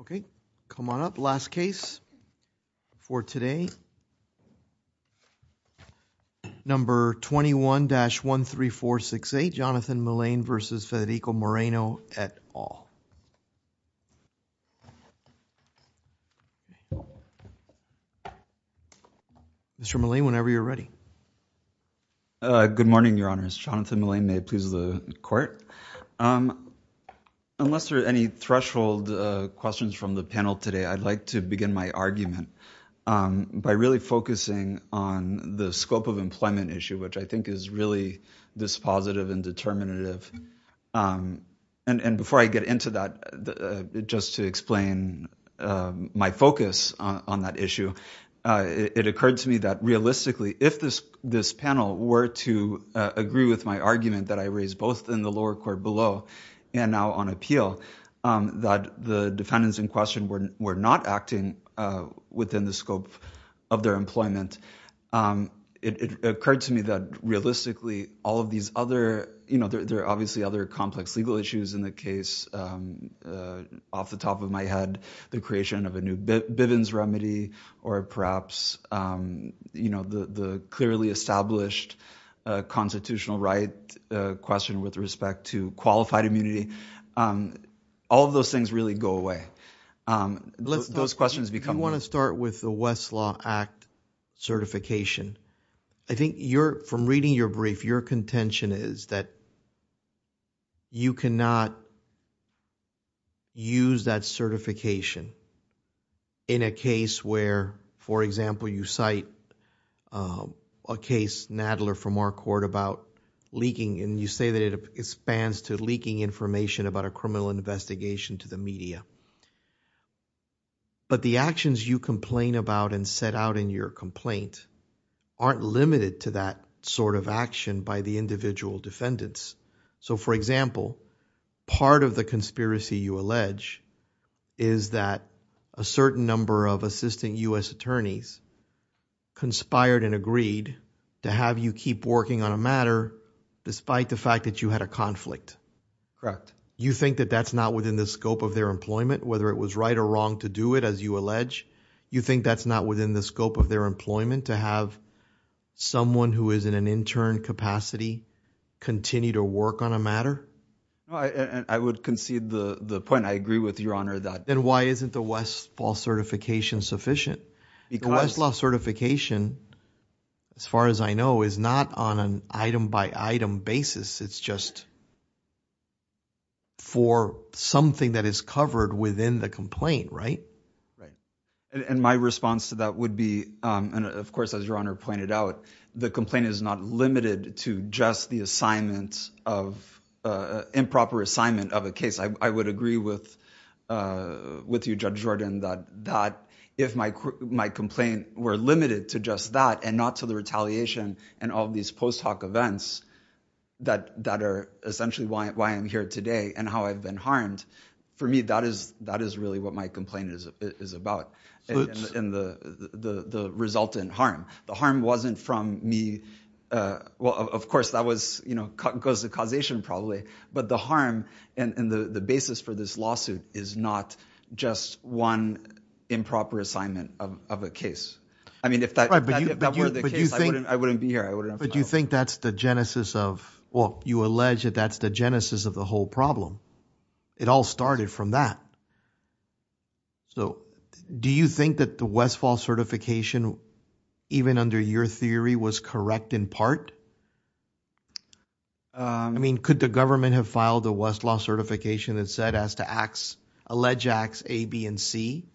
Okay, come on up. Last case for today. Number 21-13468, Jonathan Mullane v. Federico Moreno et al. Mr. Mullane, whenever you're ready. Good morning, your honors. Jonathan Mullane, may it please the court. Unless there are any threshold questions from the panel today, I'd like to begin my argument by really focusing on the scope of employment issue, which I think is really this positive and determinative. And before I get into that, just to explain my focus on that issue, it occurred to me that realistically, if this panel were to agree with my argument that I raised both in the lower court below and now on appeal, that the defendants in question were not acting within the scope of their employment. It occurred to me that realistically, all of these other, you know, there are obviously other complex legal issues in the case. Off the top of my head, the creation of a new Bivens remedy, or perhaps, you know, the clearly established constitutional right question with respect to qualified immunity. All of those things really go away. Those questions become. I do want to start with the Westlaw Act certification. I think from reading your brief, your contention is that you cannot use that certification in a case where, for example, you cite a case, Nadler, from our court about leaking. And you say that it expands to leaking information about a criminal investigation to the media. But the actions you complain about and set out in your complaint aren't limited to that sort of action by the individual defendants. So, for example, part of the conspiracy you allege is that a certain number of assistant U.S. attorneys conspired and agreed to have you keep working on a matter despite the fact that you had a conflict. Correct. You think that that's not within the scope of their employment, whether it was right or wrong to do it, as you allege? You think that's not within the scope of their employment to have someone who is in an intern capacity continue to work on a matter? I would concede the point I agree with, Your Honor, that. Then why isn't the Westlaw certification sufficient? The Westlaw certification, as far as I know, is not on an item by item basis. It's just for something that is covered within the complaint. And my response to that would be, of course, as Your Honor pointed out, the complaint is not limited to just the assignment of improper assignment of a case. I would agree with you, Judge Jordan, that if my complaint were limited to just that and not to the retaliation and all of these post hoc events that are essentially why I'm here today and how I've been harmed, for me, that is really what my complaint is about. And the resultant harm. The harm wasn't from me. Well, of course, that was, you know, because the causation probably. But the harm and the basis for this lawsuit is not just one improper assignment of a case. I mean, if that were the case, I wouldn't be here. But do you think that's the genesis of what you allege that that's the genesis of the whole problem? It all started from that. So do you think that the Westfall certification, even under your theory, was correct in part? I mean, could the government have filed the Westlaw certification that said as to acts, alleged acts A, B and C?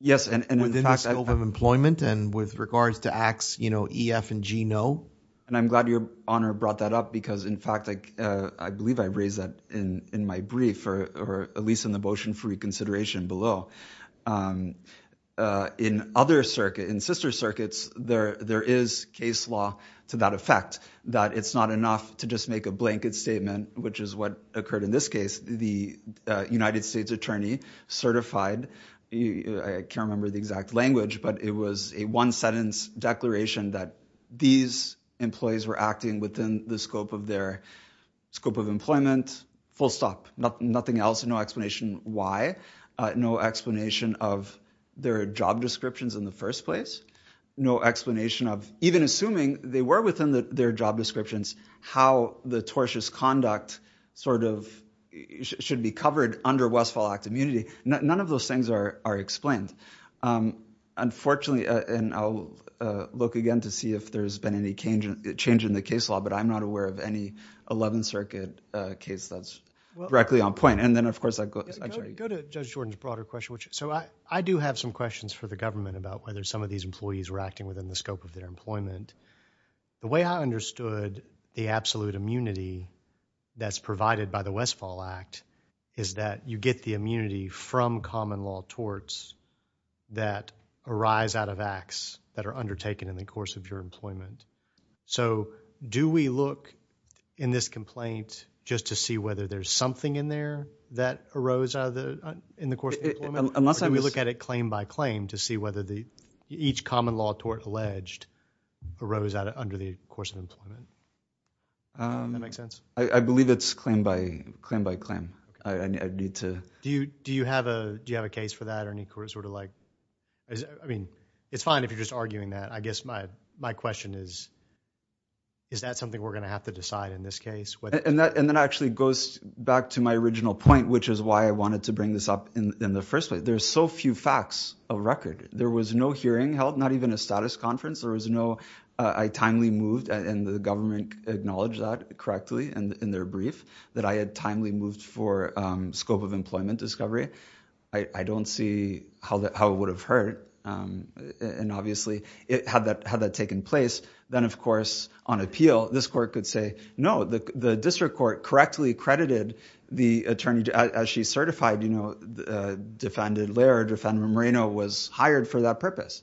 Yes. And within the scope of employment and with regards to acts, you know, E, F and G, no. And I'm glad your honor brought that up, because, in fact, I believe I raised that in my brief or at least in the motion for reconsideration below. In other circuit, in sister circuits, there is case law to that effect, that it's not enough to just make a blanket statement, which is what occurred in this case. The United States attorney certified. I can't remember the exact language, but it was a one sentence declaration that these employees were acting within the scope of their scope of employment. Full stop. Nothing else. No explanation why. No explanation of their job descriptions in the first place. No explanation of, even assuming they were within their job descriptions, how the tortious conduct sort of should be covered under Westfall Act immunity. None of those things are explained. Unfortunately, and I'll look again to see if there's been any change in the case law, but I'm not aware of any 11th Circuit case that's directly on point. Go to Judge Jordan's broader question. So I do have some questions for the government about whether some of these employees were acting within the scope of their employment. The way I understood the absolute immunity that's provided by the Westfall Act is that you get the immunity from common law torts that arise out of acts that are undertaken in the course of your employment. So do we look in this complaint just to see whether there's something in there that arose in the course of employment? Or do we look at it claim by claim to see whether each common law tort alleged arose under the course of employment? Does that make sense? I believe it's claim by claim. Do you have a case for that? I mean, it's fine if you're just arguing that. I guess my question is, is that something we're going to have to decide in this case? And that actually goes back to my original point, which is why I wanted to bring this up in the first place. There's so few facts of record. There was no hearing held, not even a status conference. There was no, I timely moved, and the government acknowledged that correctly in their brief, that I had timely moved for scope of employment discovery. I don't see how that how it would have hurt. And obviously, it had that had that taken place. Then, of course, on appeal, this court could say, no, the district court correctly credited the attorney as she certified, you know, the defendant, Laird, defendant Moreno was hired for that purpose.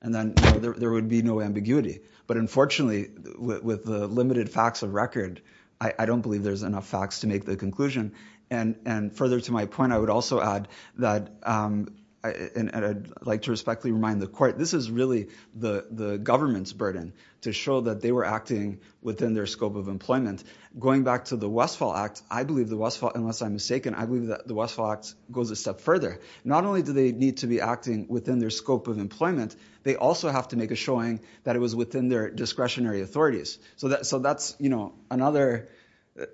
And then there would be no ambiguity. But unfortunately, with the limited facts of record, I don't believe there's enough facts to make the conclusion. And further to my point, I would also add that I'd like to respectfully remind the court, this is really the government's burden to show that they were acting within their scope of employment. Going back to the Westfall Act, I believe the Westfall, unless I'm mistaken, I believe that the Westfall Act goes a step further. Not only do they need to be acting within their scope of employment, they also have to make a showing that it was within their discretionary authorities. So that's, you know, another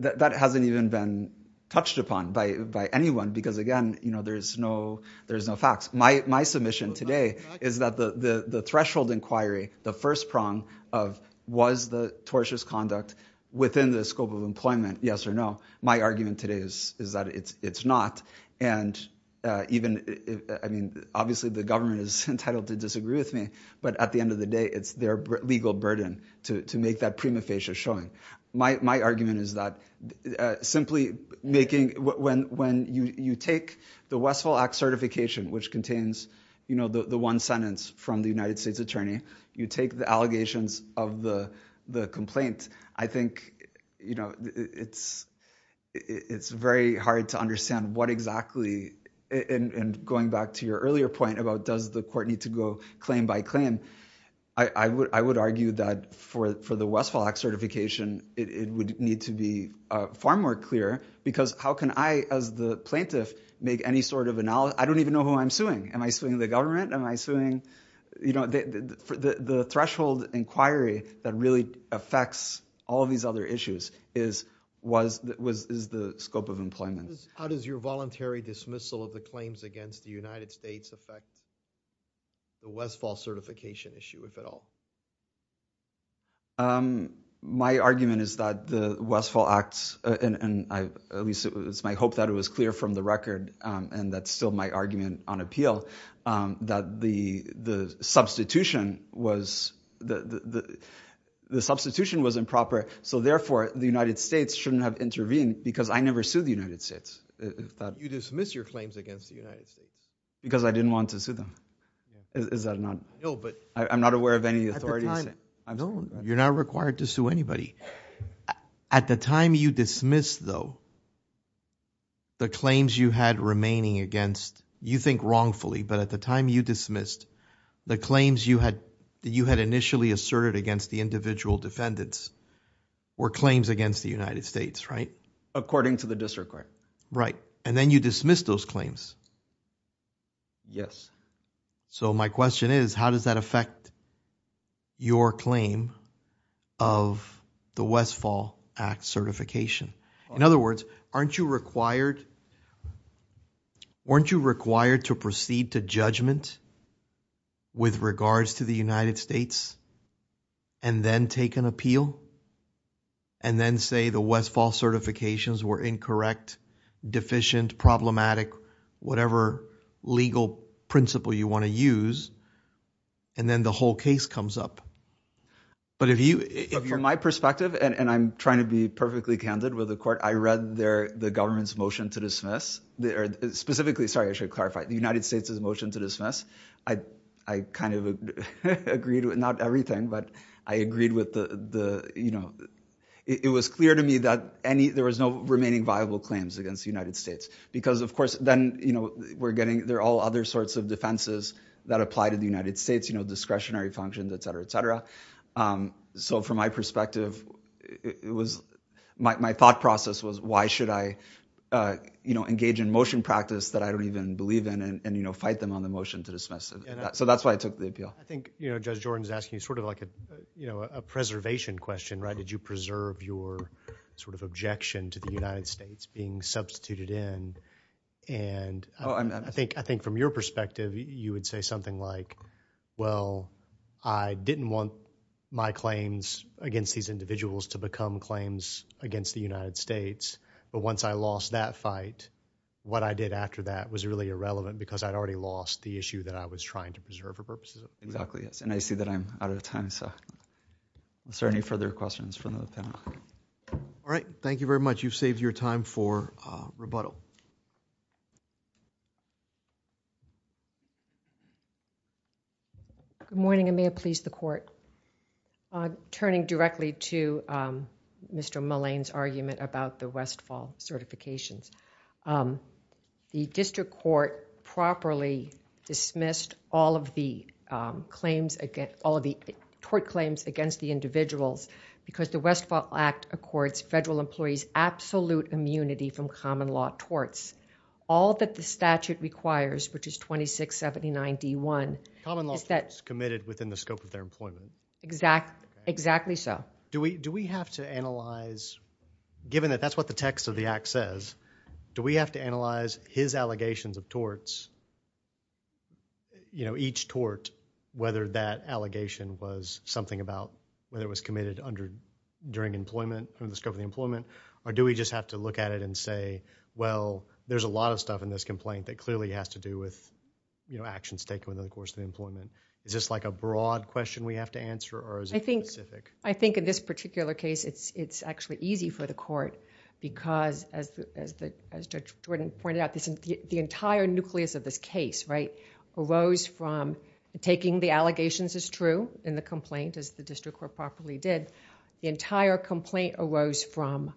that hasn't even been touched upon by anyone. Because, again, you know, there's no there's no facts. My submission today is that the threshold inquiry, the first prong of was the tortious conduct within the scope of employment, yes or no, my argument today is that it's not. And even I mean, obviously, the government is entitled to disagree with me. But at the end of the day, it's their legal burden to make that prima facie showing. My argument is that simply making when you take the Westfall Act certification, which contains, you know, the one sentence from the United States attorney, you take the allegations of the complaint. I think, you know, it's it's very hard to understand what exactly and going back to your earlier point about does the court need to go claim by claim? I would I would argue that for for the Westfall Act certification, it would need to be far more clear, because how can I as the plaintiff make any sort of analysis? I don't even know who I'm suing. Am I suing the government? Am I suing, you know, the threshold inquiry that really affects all of these other issues is was was is the scope of employment. How does your voluntary dismissal of the claims against the United States affect? The Westfall certification issue, if at all. My argument is that the Westfall Act and I at least it's my hope that it was clear from the record and that's still my argument on appeal that the the substitution was that the substitution was improper. So therefore, the United States shouldn't have intervened because I never sued the United States. You dismiss your claims against the United States because I didn't want to sue them. Is that not? No, but I'm not aware of any authority. I know you're not required to sue anybody at the time you dismiss, though. The claims you had remaining against you think wrongfully, but at the time you dismissed the claims you had that you had initially asserted against the individual defendants or claims against the United States, right? According to the district court. Right. And then you dismiss those claims. Yes. So my question is, how does that affect your claim of the Westfall Act certification? In other words, aren't you required weren't you required to proceed to judgment with regards to the United States and then take an appeal and then say the Westfall certifications were incorrect, deficient, problematic, whatever legal principle you want to use? And then the whole case comes up. But if you if you're my perspective and I'm trying to be perfectly candid with the court, I read their the government's motion to dismiss specifically. Sorry, I should clarify the United States's motion to dismiss. I I kind of agreed with not everything, but I agreed with the you know, it was clear to me that any there was no remaining viable claims against the United States. Because, of course, then, you know, we're getting there all other sorts of defenses that apply to the United States, you know, discretionary functions, et cetera, et cetera. So from my perspective, it was my thought process was, why should I, you know, engage in motion practice that I don't even believe in and, you know, fight them on the motion to dismiss? So that's why I took the appeal. I think, you know, Judge Jordan's asking you sort of like, you know, a preservation question, right? Did you preserve your sort of objection to the United States being substituted in? And I think I think from your perspective, you would say something like, well, I didn't want my claims against these individuals to become claims against the United States. But once I lost that fight, what I did after that was really irrelevant because I'd already lost the issue that I was trying to preserve for purposes of exactly. Yes, and I see that I'm out of time. So is there any further questions from the panel? All right. Thank you very much. You've saved your time for rebuttal. Good morning. I may have pleased the court. I'm turning directly to Mr. Mullane's argument about the Westfall certifications. The district court properly dismissed all of the claims, all of the tort claims against the individuals because the Westfall Act accords federal employees absolute immunity from common law torts. All that the statute requires, which is 2679 D1. Common law torts committed within the scope of their employment. Exactly. Exactly so. Do we do we have to analyze given that that's what the text of the act says? Do we have to analyze his allegations of torts? You know, each tort, whether that allegation was something about whether it was committed under during employment and the scope of the employment, or do we just have to look at it and say, well, there's a lot of stuff in this complaint that clearly has to do with, you know, actions taken in the course of employment? Is this like a broad question we have to answer? Or is it specific? I think in this particular case, it's actually easy for the court because as Judge Jordan pointed out, the entire nucleus of this case, right, arose from taking the allegations as true in the complaint as the district court properly did. The entire complaint arose from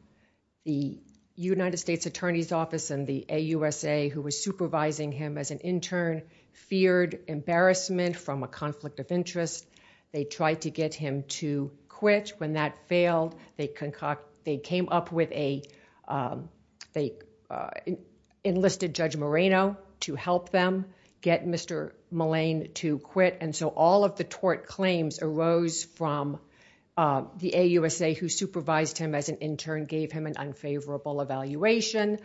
the United States Attorney's Office and the AUSA who was supervising him as an intern feared embarrassment from a conflict of interest. They tried to get him to quit. When that failed, they concoct, they came up with a, they enlisted Judge Moreno to help them get Mr. Malayne to quit. And so all of the tort claims arose from the AUSA who supervised him as an intern gave him an unfavorable evaluation.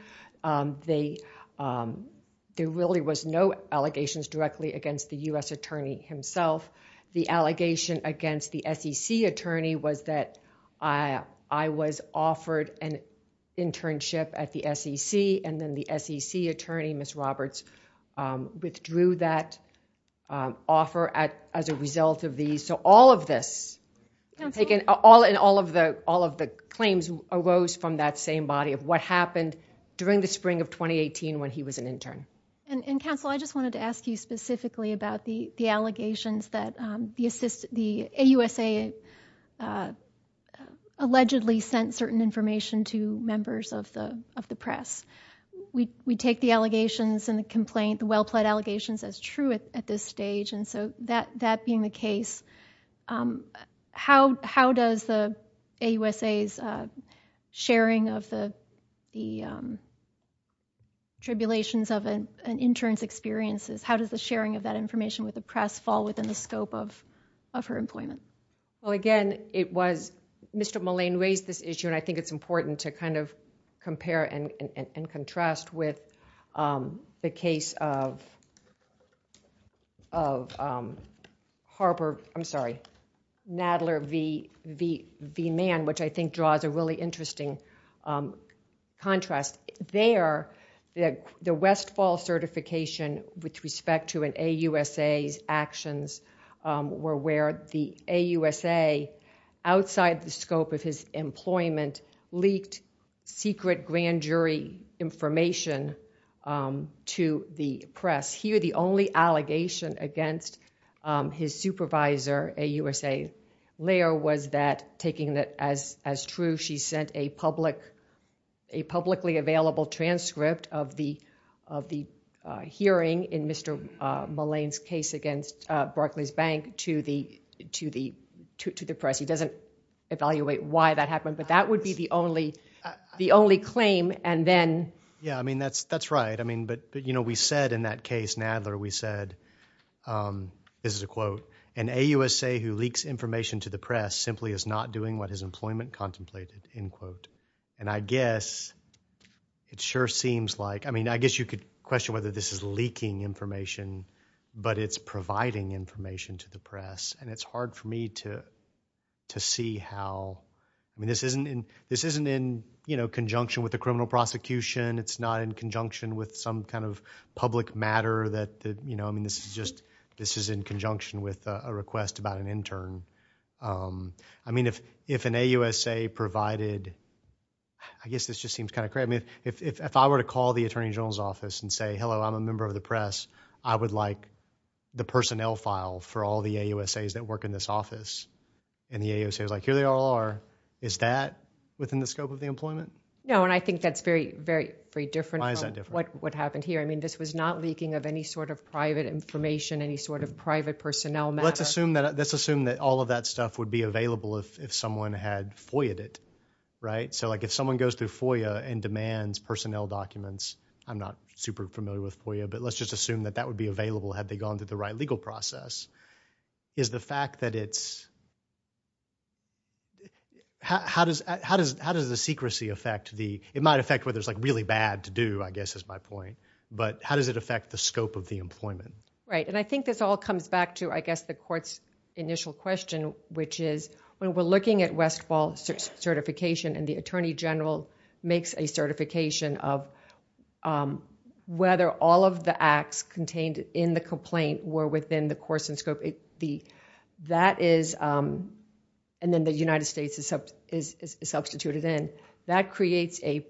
There really was no allegations directly against the U.S. attorney himself. The allegation against the SEC attorney was that I was offered an internship at the SEC and then the SEC attorney, Ms. Roberts, withdrew that offer as a result of these. And so all of this, all of the claims arose from that same body of what happened during the spring of 2018 when he was an intern. And counsel, I just wanted to ask you specifically about the allegations that the AUSA allegedly sent certain information to members of the press. We take the allegations and the complaint, the well-plead allegations as true at this stage. And so that being the case, how does the AUSA's sharing of the tribulations of an intern's experiences, how does the sharing of that information with the press fall within the scope of her employment? Well, again, it was, Mr. Malayne raised this issue and I think it's important to kind of compare and contrast with the case of Harper, I'm sorry, Nadler v. Mann, which I think draws a really interesting contrast. There, the Westfall certification with respect to an AUSA's actions were where the AUSA, outside the scope of his employment, leaked secret grand jury information to the press. Here, the only allegation against his supervisor, a USA lawyer, was that taking that as true, she sent a publicly available transcript of the hearing in Mr. Malayne's case against Barclays Bank to the press. He doesn't evaluate why that happened, but that would be the only claim. Yeah, I mean, that's right, but we said in that case, Nadler, we said, this is a quote, an AUSA who leaks information to the press simply is not doing what his employment contemplated, end quote. And I guess it sure seems like, I mean, I guess you could question whether this is leaking information, but it's providing information to the press. And it's hard for me to see how, I mean, this isn't in conjunction with the criminal prosecution, it's not in conjunction with some kind of public matter that, you know, I mean, this is just, this is in conjunction with a request about an intern. I mean, if an AUSA provided, I guess this just seems kind of crazy. I mean, if I were to call the Attorney General's office and say, hello, I'm a member of the press, I would like the personnel file for all the AUSAs that work in this office. And the AUSA is like, here they all are. Is that within the scope of the employment? No, and I think that's very, very, very different from what happened here. I mean, this was not leaking of any sort of private information, any sort of private personnel matter. Well, let's assume that all of that stuff would be available if someone had FOIAed it, right? So like if someone goes through FOIA and demands personnel documents, I'm not super familiar with FOIA, but let's just assume that that would be available had they gone through the right legal process. Is the fact that it's, how does the secrecy affect the, it might affect whether it's like really bad to do, I guess is my point, but how does it affect the scope of the employment? Right, and I think this all comes back to, I guess, the court's initial question, which is when we're looking at Westfall certification and the Attorney General makes a certification of whether all of the acts contained in the complaint were within the course and scope, that is, and then the United States is substituted in, that creates a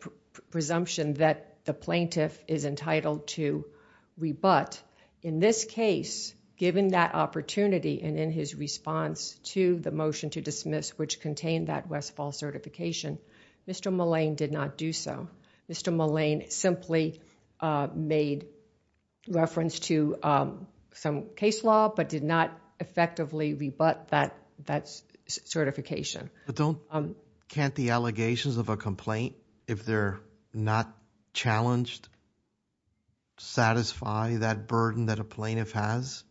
presumption that the plaintiff is entitled to rebut. In this case, given that opportunity and in his response to the motion to dismiss, which contained that Westfall certification, Mr. Mullane did not do so. Mr. Mullane simply made reference to some case law, but did not effectively rebut that certification. But don't, can't the allegations of a complaint, if they're not challenged, satisfy that burden that a plaintiff has?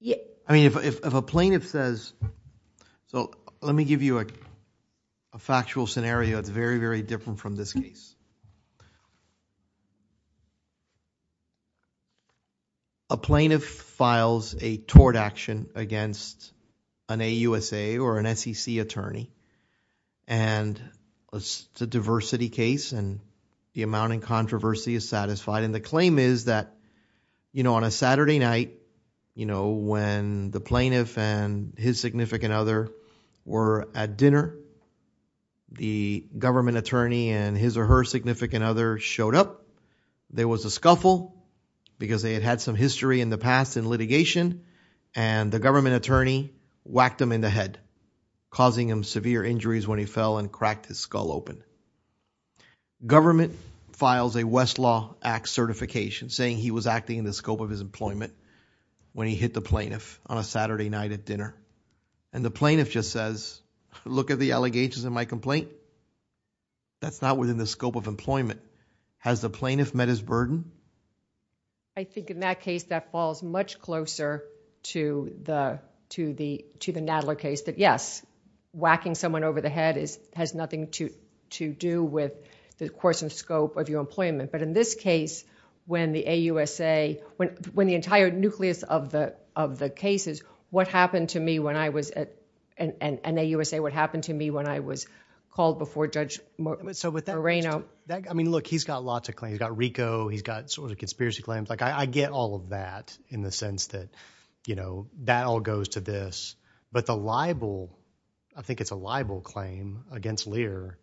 Yeah. I mean, if a plaintiff says, so let me give you a factual scenario. It's very, very different from this case. A plaintiff files a tort action against an AUSA or an SEC attorney, and it's a diversity case and the amount in controversy is satisfied, and the claim is that, you know, on a Saturday night, you know, when the plaintiff and his significant other were at dinner, the government attorney and his or her significant other showed up. There was a scuffle because they had had some history in the past in litigation, and the government attorney whacked him in the head, causing him severe injuries when he fell and cracked his skull open. Government files a Westlaw Act certification saying he was acting in the scope of his employment when he hit the plaintiff on a Saturday night at dinner. And the plaintiff just says, look at the allegations in my complaint. That's not within the scope of employment. Has the plaintiff met his burden? I think in that case, that falls much closer to the Nadler case that, yes, whacking someone over the head has nothing to do with the course and scope of your employment. But in this case, when the AUSA, when the entire nucleus of the cases, what happened to me when I was at an AUSA, what happened to me when I was called before Judge Moreno? I mean, look, he's got lots of claims. He's got RICO. He's got sort of conspiracy claims. Like, I get all of that in the sense that, you know, that all goes to this. But the libel, I think it's a libel claim against Lear,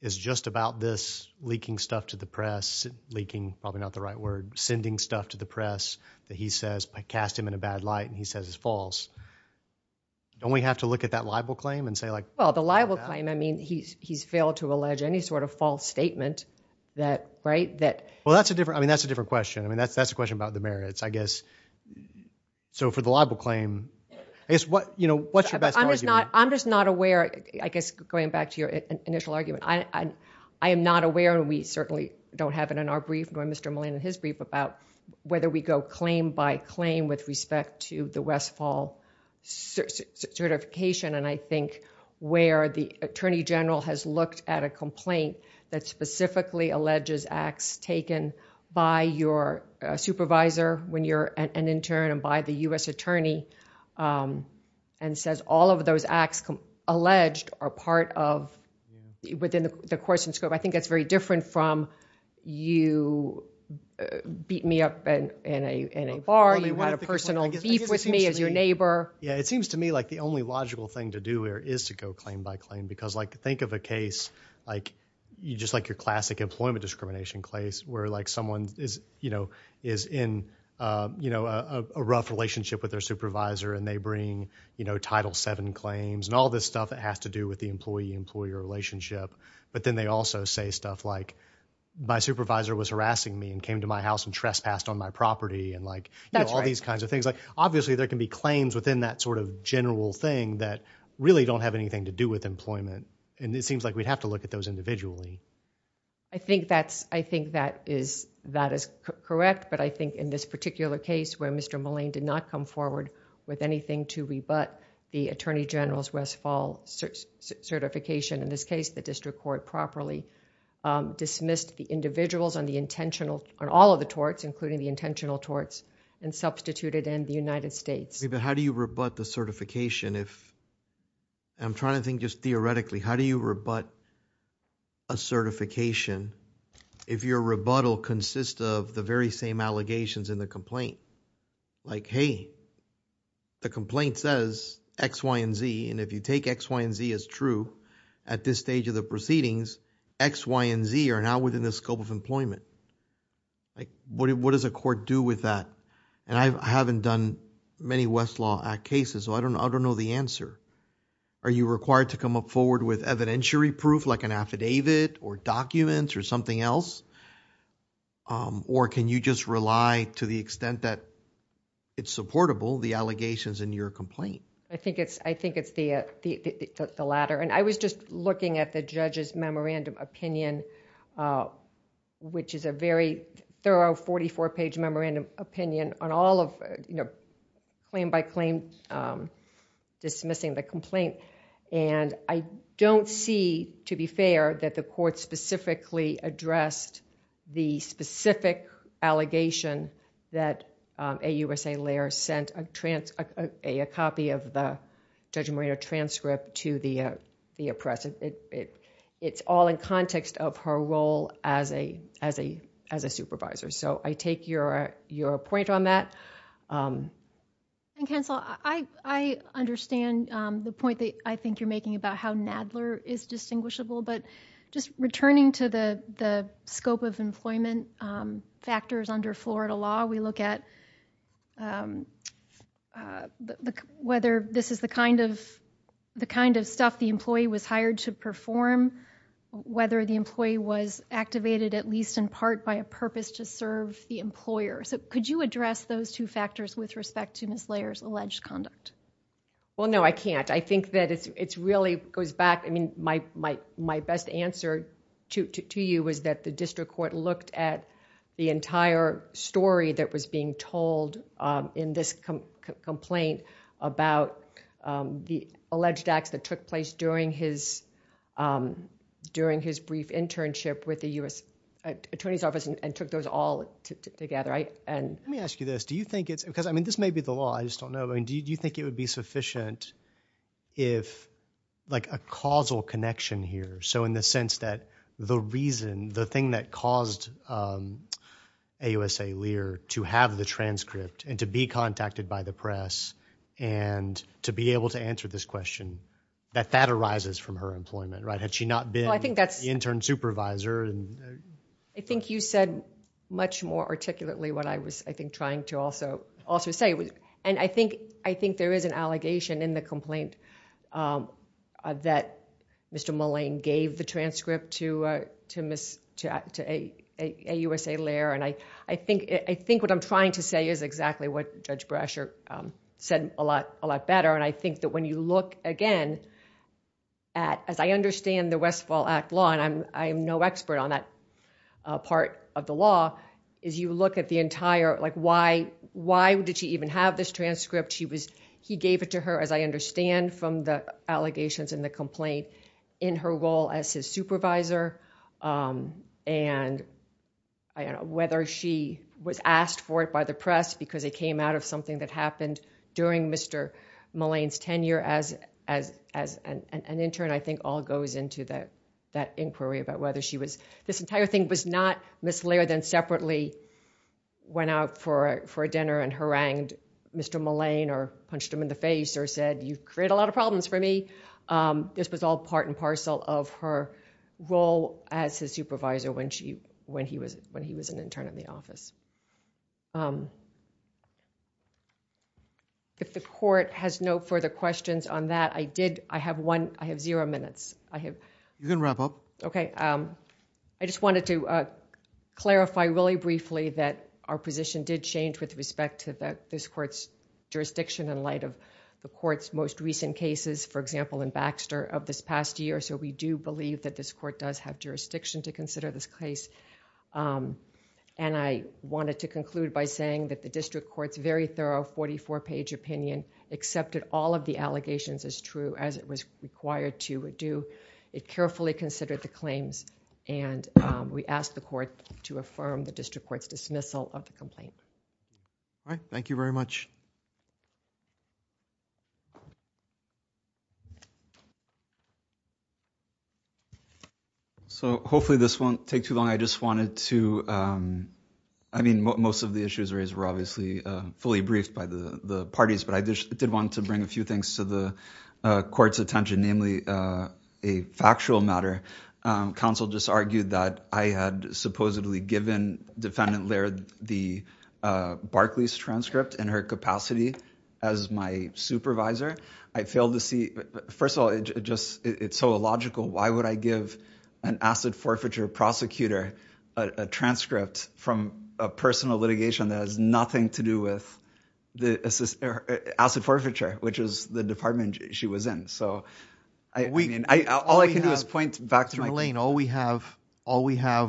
is just about this leaking stuff to the press. Leaking, probably not the right word. Sending stuff to the press that he says cast him in a bad light and he says is false. Don't we have to look at that libel claim and say like. Well, the libel claim, I mean, he's failed to allege any sort of false statement that, right, that. Well, that's a different. I mean, that's a different question. I mean, that's a question about the merits, I guess. So for the libel claim, I guess, you know, what's your best argument? I'm just not aware, I guess, going back to your initial argument. I am not aware, and we certainly don't have it in our brief, going Mr. Mullen in his brief, about whether we go claim by claim with respect to the Westfall certification. And I think where the attorney general has looked at a complaint that specifically alleges acts taken by your supervisor when you're an intern and by the U.S. attorney and says all of those acts alleged are part of within the course and scope. I think that's very different from you beat me up in a bar, you had a personal beef with me as your neighbor. Yeah, it seems to me like the only logical thing to do here is to go claim by claim because, like, think of a case, like, you just like your classic employment discrimination case where, like, someone is, you know, is in, you know, a rough relationship with their supervisor and they bring, you know, Title VII claims and all this stuff that has to do with the employee-employee relationship. But then they also say stuff like my supervisor was harassing me and came to my house and trespassed on my property and, like, all these kinds of things. Like, obviously, there can be claims within that sort of general thing that really don't have anything to do with employment. And it seems like we'd have to look at those individually. I think that is correct, but I think in this particular case where Mr. Mullane did not come forward with anything to rebut the Attorney General's Westfall certification, in this case, the district court properly dismissed the individuals on the intentional, on all of the torts, including the intentional torts, and substituted in the United States. But how do you rebut the certification if, I'm trying to think just theoretically, how do you rebut a certification if your rebuttal consists of the very same allegations in the complaint? Like, hey, the complaint says X, Y, and Z, and if you take X, Y, and Z as true at this stage of the proceedings, X, Y, and Z are now within the scope of employment. Like, what does a court do with that? And I haven't done many Westlaw Act cases, so I don't know the answer. Are you required to come up forward with evidentiary proof like an affidavit or documents or something else? Or can you just rely to the extent that it's supportable, the allegations in your complaint? I think it's the latter. And I was just looking at the judge's memorandum opinion, which is a very thorough 44-page memorandum opinion on all of claim by claim dismissing the complaint. And I don't see, to be fair, that the court specifically addressed the specific allegation that AUSA Laird sent a copy of the Judge Moreno transcript to the press. It's all in context of her role as a supervisor. So I take your point on that. And, Counsel, I understand the point that I think you're making about how Nadler is distinguishable. But just returning to the scope of employment factors under Florida law, we look at whether this is the kind of stuff the employee was hired to perform, whether the employee was activated at least in part by a purpose to serve the employer. So could you address those two factors with respect to Ms. Laird's alleged conduct? Well, no, I can't. I think that it really goes back... I mean, my best answer to you was that the district court looked at the entire story that was being told in this complaint about the alleged acts that took place during his brief internship with the U.S. Attorney's Office and took those all together. Let me ask you this. Do you think it's... because, I mean, this may be the law. I just don't know. Do you think it would be sufficient if... like a causal connection here. So in the sense that the reason, the thing that caused AUSA Laird to have the transcript and to be contacted by the press and to be able to answer this question, that that arises from her employment, right? Had she not been the intern supervisor? I think you said much more articulately what I was, I think, trying to also say. And I think there is an allegation in the complaint that Mr. Mullane gave the transcript to AUSA Laird. And I think what I'm trying to say is exactly what Judge Brasher said a lot better. And I think that when you look again at... as I understand the Westfall Act law, and I am no expert on that part of the law, is you look at the entire... like why did she even have this transcript? He gave it to her, as I understand from the allegations in the complaint, in her role as his supervisor. And, I don't know, whether she was asked for it by the press because it came out of something that happened during Mr. Mullane's tenure as an intern, I think all goes into that inquiry about whether she was... This entire thing was not Ms. Laird then separately went out for a dinner and harangued Mr. Mullane or punched him in the face or said, you create a lot of problems for me. This was all part and parcel of her role as his supervisor when he was an intern in the office. If the court has no further questions on that, I did... I have one... I have zero minutes. I have... You can wrap up. Okay. I just wanted to clarify really briefly that our position did change with respect to this court's jurisdiction in light of the court's most recent cases, for example, in Baxter of this past year. So, we do believe that this court does have jurisdiction to consider this case. And, I wanted to conclude by saying that the district court's very thorough 44-page opinion accepted all of the allegations as true as it was required to do. It carefully considered the claims and we asked the court to affirm the district court's dismissal of the complaint. All right. Thank you very much. So, hopefully this won't take too long. I just wanted to... I mean, most of the issues raised were obviously fully briefed by the parties, but I did want to bring a few things to the court's attention, namely a factual matter. Counsel just argued that I had supposedly given Defendant Laird the Barclays transcript in her capacity as my supervisor. I failed to see... First of all, it's so illogical. Why would I give an acid forfeiture prosecutor a transcript from a personal litigation that has nothing to do with acid forfeiture, which is the department she was in? All I can do is point back to my... All we have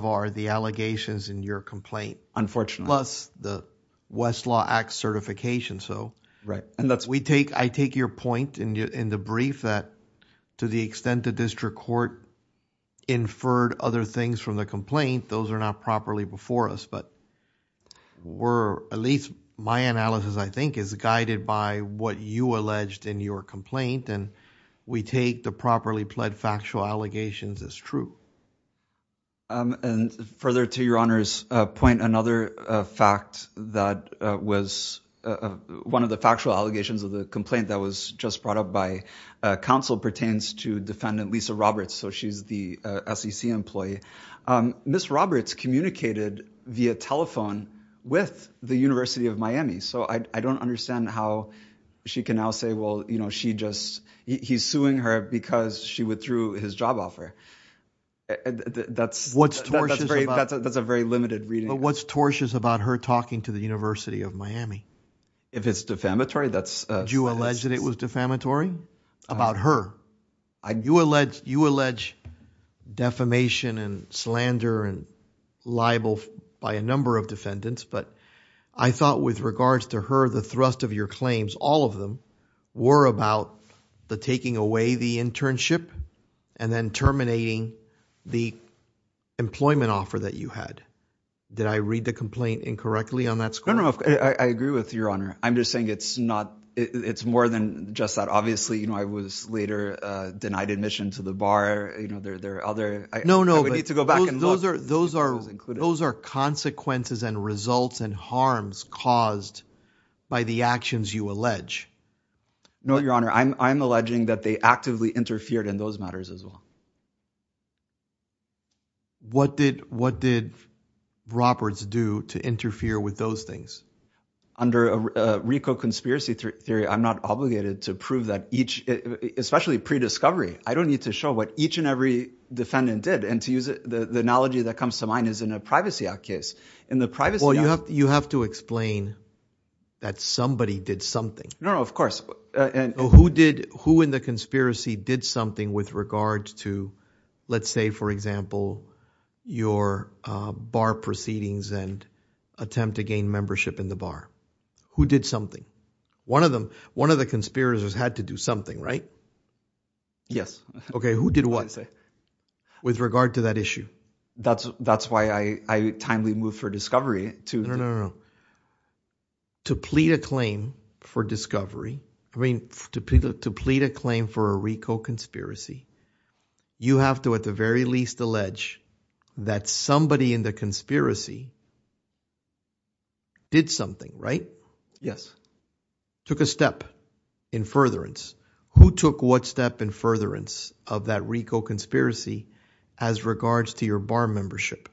are the allegations in your complaint. Plus the Westlaw Act certification. Right. I take your point in the brief that to the extent the district court inferred other things from the complaint, those are not properly before us. But, at least my analysis, I think, is guided by what you alleged in your complaint. We take the properly pled factual allegations as true. Further to your Honor's point, another fact that was one of the factual allegations of the complaint that was just brought up by counsel pertains to Defendant Lisa Roberts. She's the SEC employee. Ms. Roberts communicated via telephone with the University of Miami. So, I don't understand how she can now say, well, you know, she just... He's suing her because she withdrew his job offer. That's... What's tortious about... That's a very limited reading. What's tortious about her talking to the University of Miami? If it's defamatory, that's... Did you allege that it was defamatory about her? You allege defamation and slander and libel by a number of defendants. But, I thought with regards to her, the thrust of your claims, all of them, were about the taking away the internship and then terminating the employment offer that you had. Did I read the complaint incorrectly on that score? No, no. I agree with your Honor. I'm just saying it's not... It's more than just that. Obviously, you know, I was later denied admission to the bar. You know, there are other... No, no. I would need to go back and look. Those are consequences and results and harms caused by the actions you allege. No, your Honor. I'm alleging that they actively interfered in those matters as well. What did Roberts do to interfere with those things? Under a RICO conspiracy theory, I'm not obligated to prove that each... Especially pre-discovery, I don't need to show what each and every defendant did. The analogy that comes to mind is in a Privacy Act case. In the Privacy Act... Well, you have to explain that somebody did something. No, no. Of course. Who in the conspiracy did something with regards to, let's say, for example, your bar proceedings and attempt to gain membership in the bar? Who did something? One of the conspirators had to do something, right? Yes. Okay. Who did what? With regard to that issue. That's why I timely moved for discovery to... No, no, no. To plead a claim for discovery, I mean, to plead a claim for a RICO conspiracy, you have to at the very least allege that somebody in the conspiracy did something, right? Yes. Took a step in furtherance. Who took what step in furtherance of that RICO conspiracy as regards to your bar membership?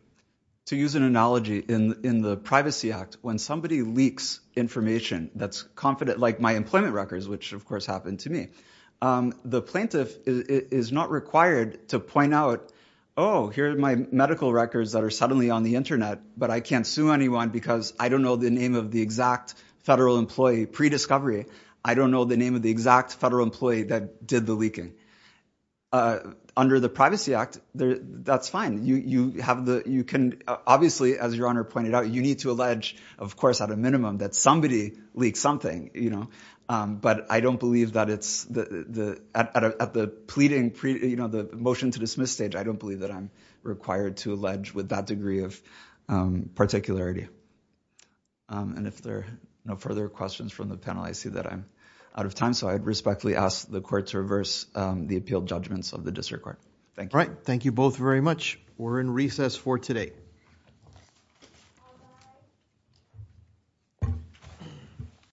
To use an analogy, in the Privacy Act, when somebody leaks information that's confident, like my employment records, which, of course, happened to me, the plaintiff is not required to point out, oh, here are my medical records that are suddenly on the Internet, but I can't sue anyone because I don't know the name of the exact federal employee pre-discovery. I don't know the name of the exact federal employee that did the leaking. Under the Privacy Act, that's fine. Obviously, as Your Honor pointed out, you need to allege, of course, at a minimum, that somebody leaked something. But I don't believe that at the pleading, the motion to dismiss stage, I don't believe that I'm required to allege with that degree of particularity. And if there are no further questions from the panel, I see that I'm out of time, so I respectfully ask the Court to reverse the appealed judgments of the District Court. Thank you. All right. Thank you both very much. We're in recess for today.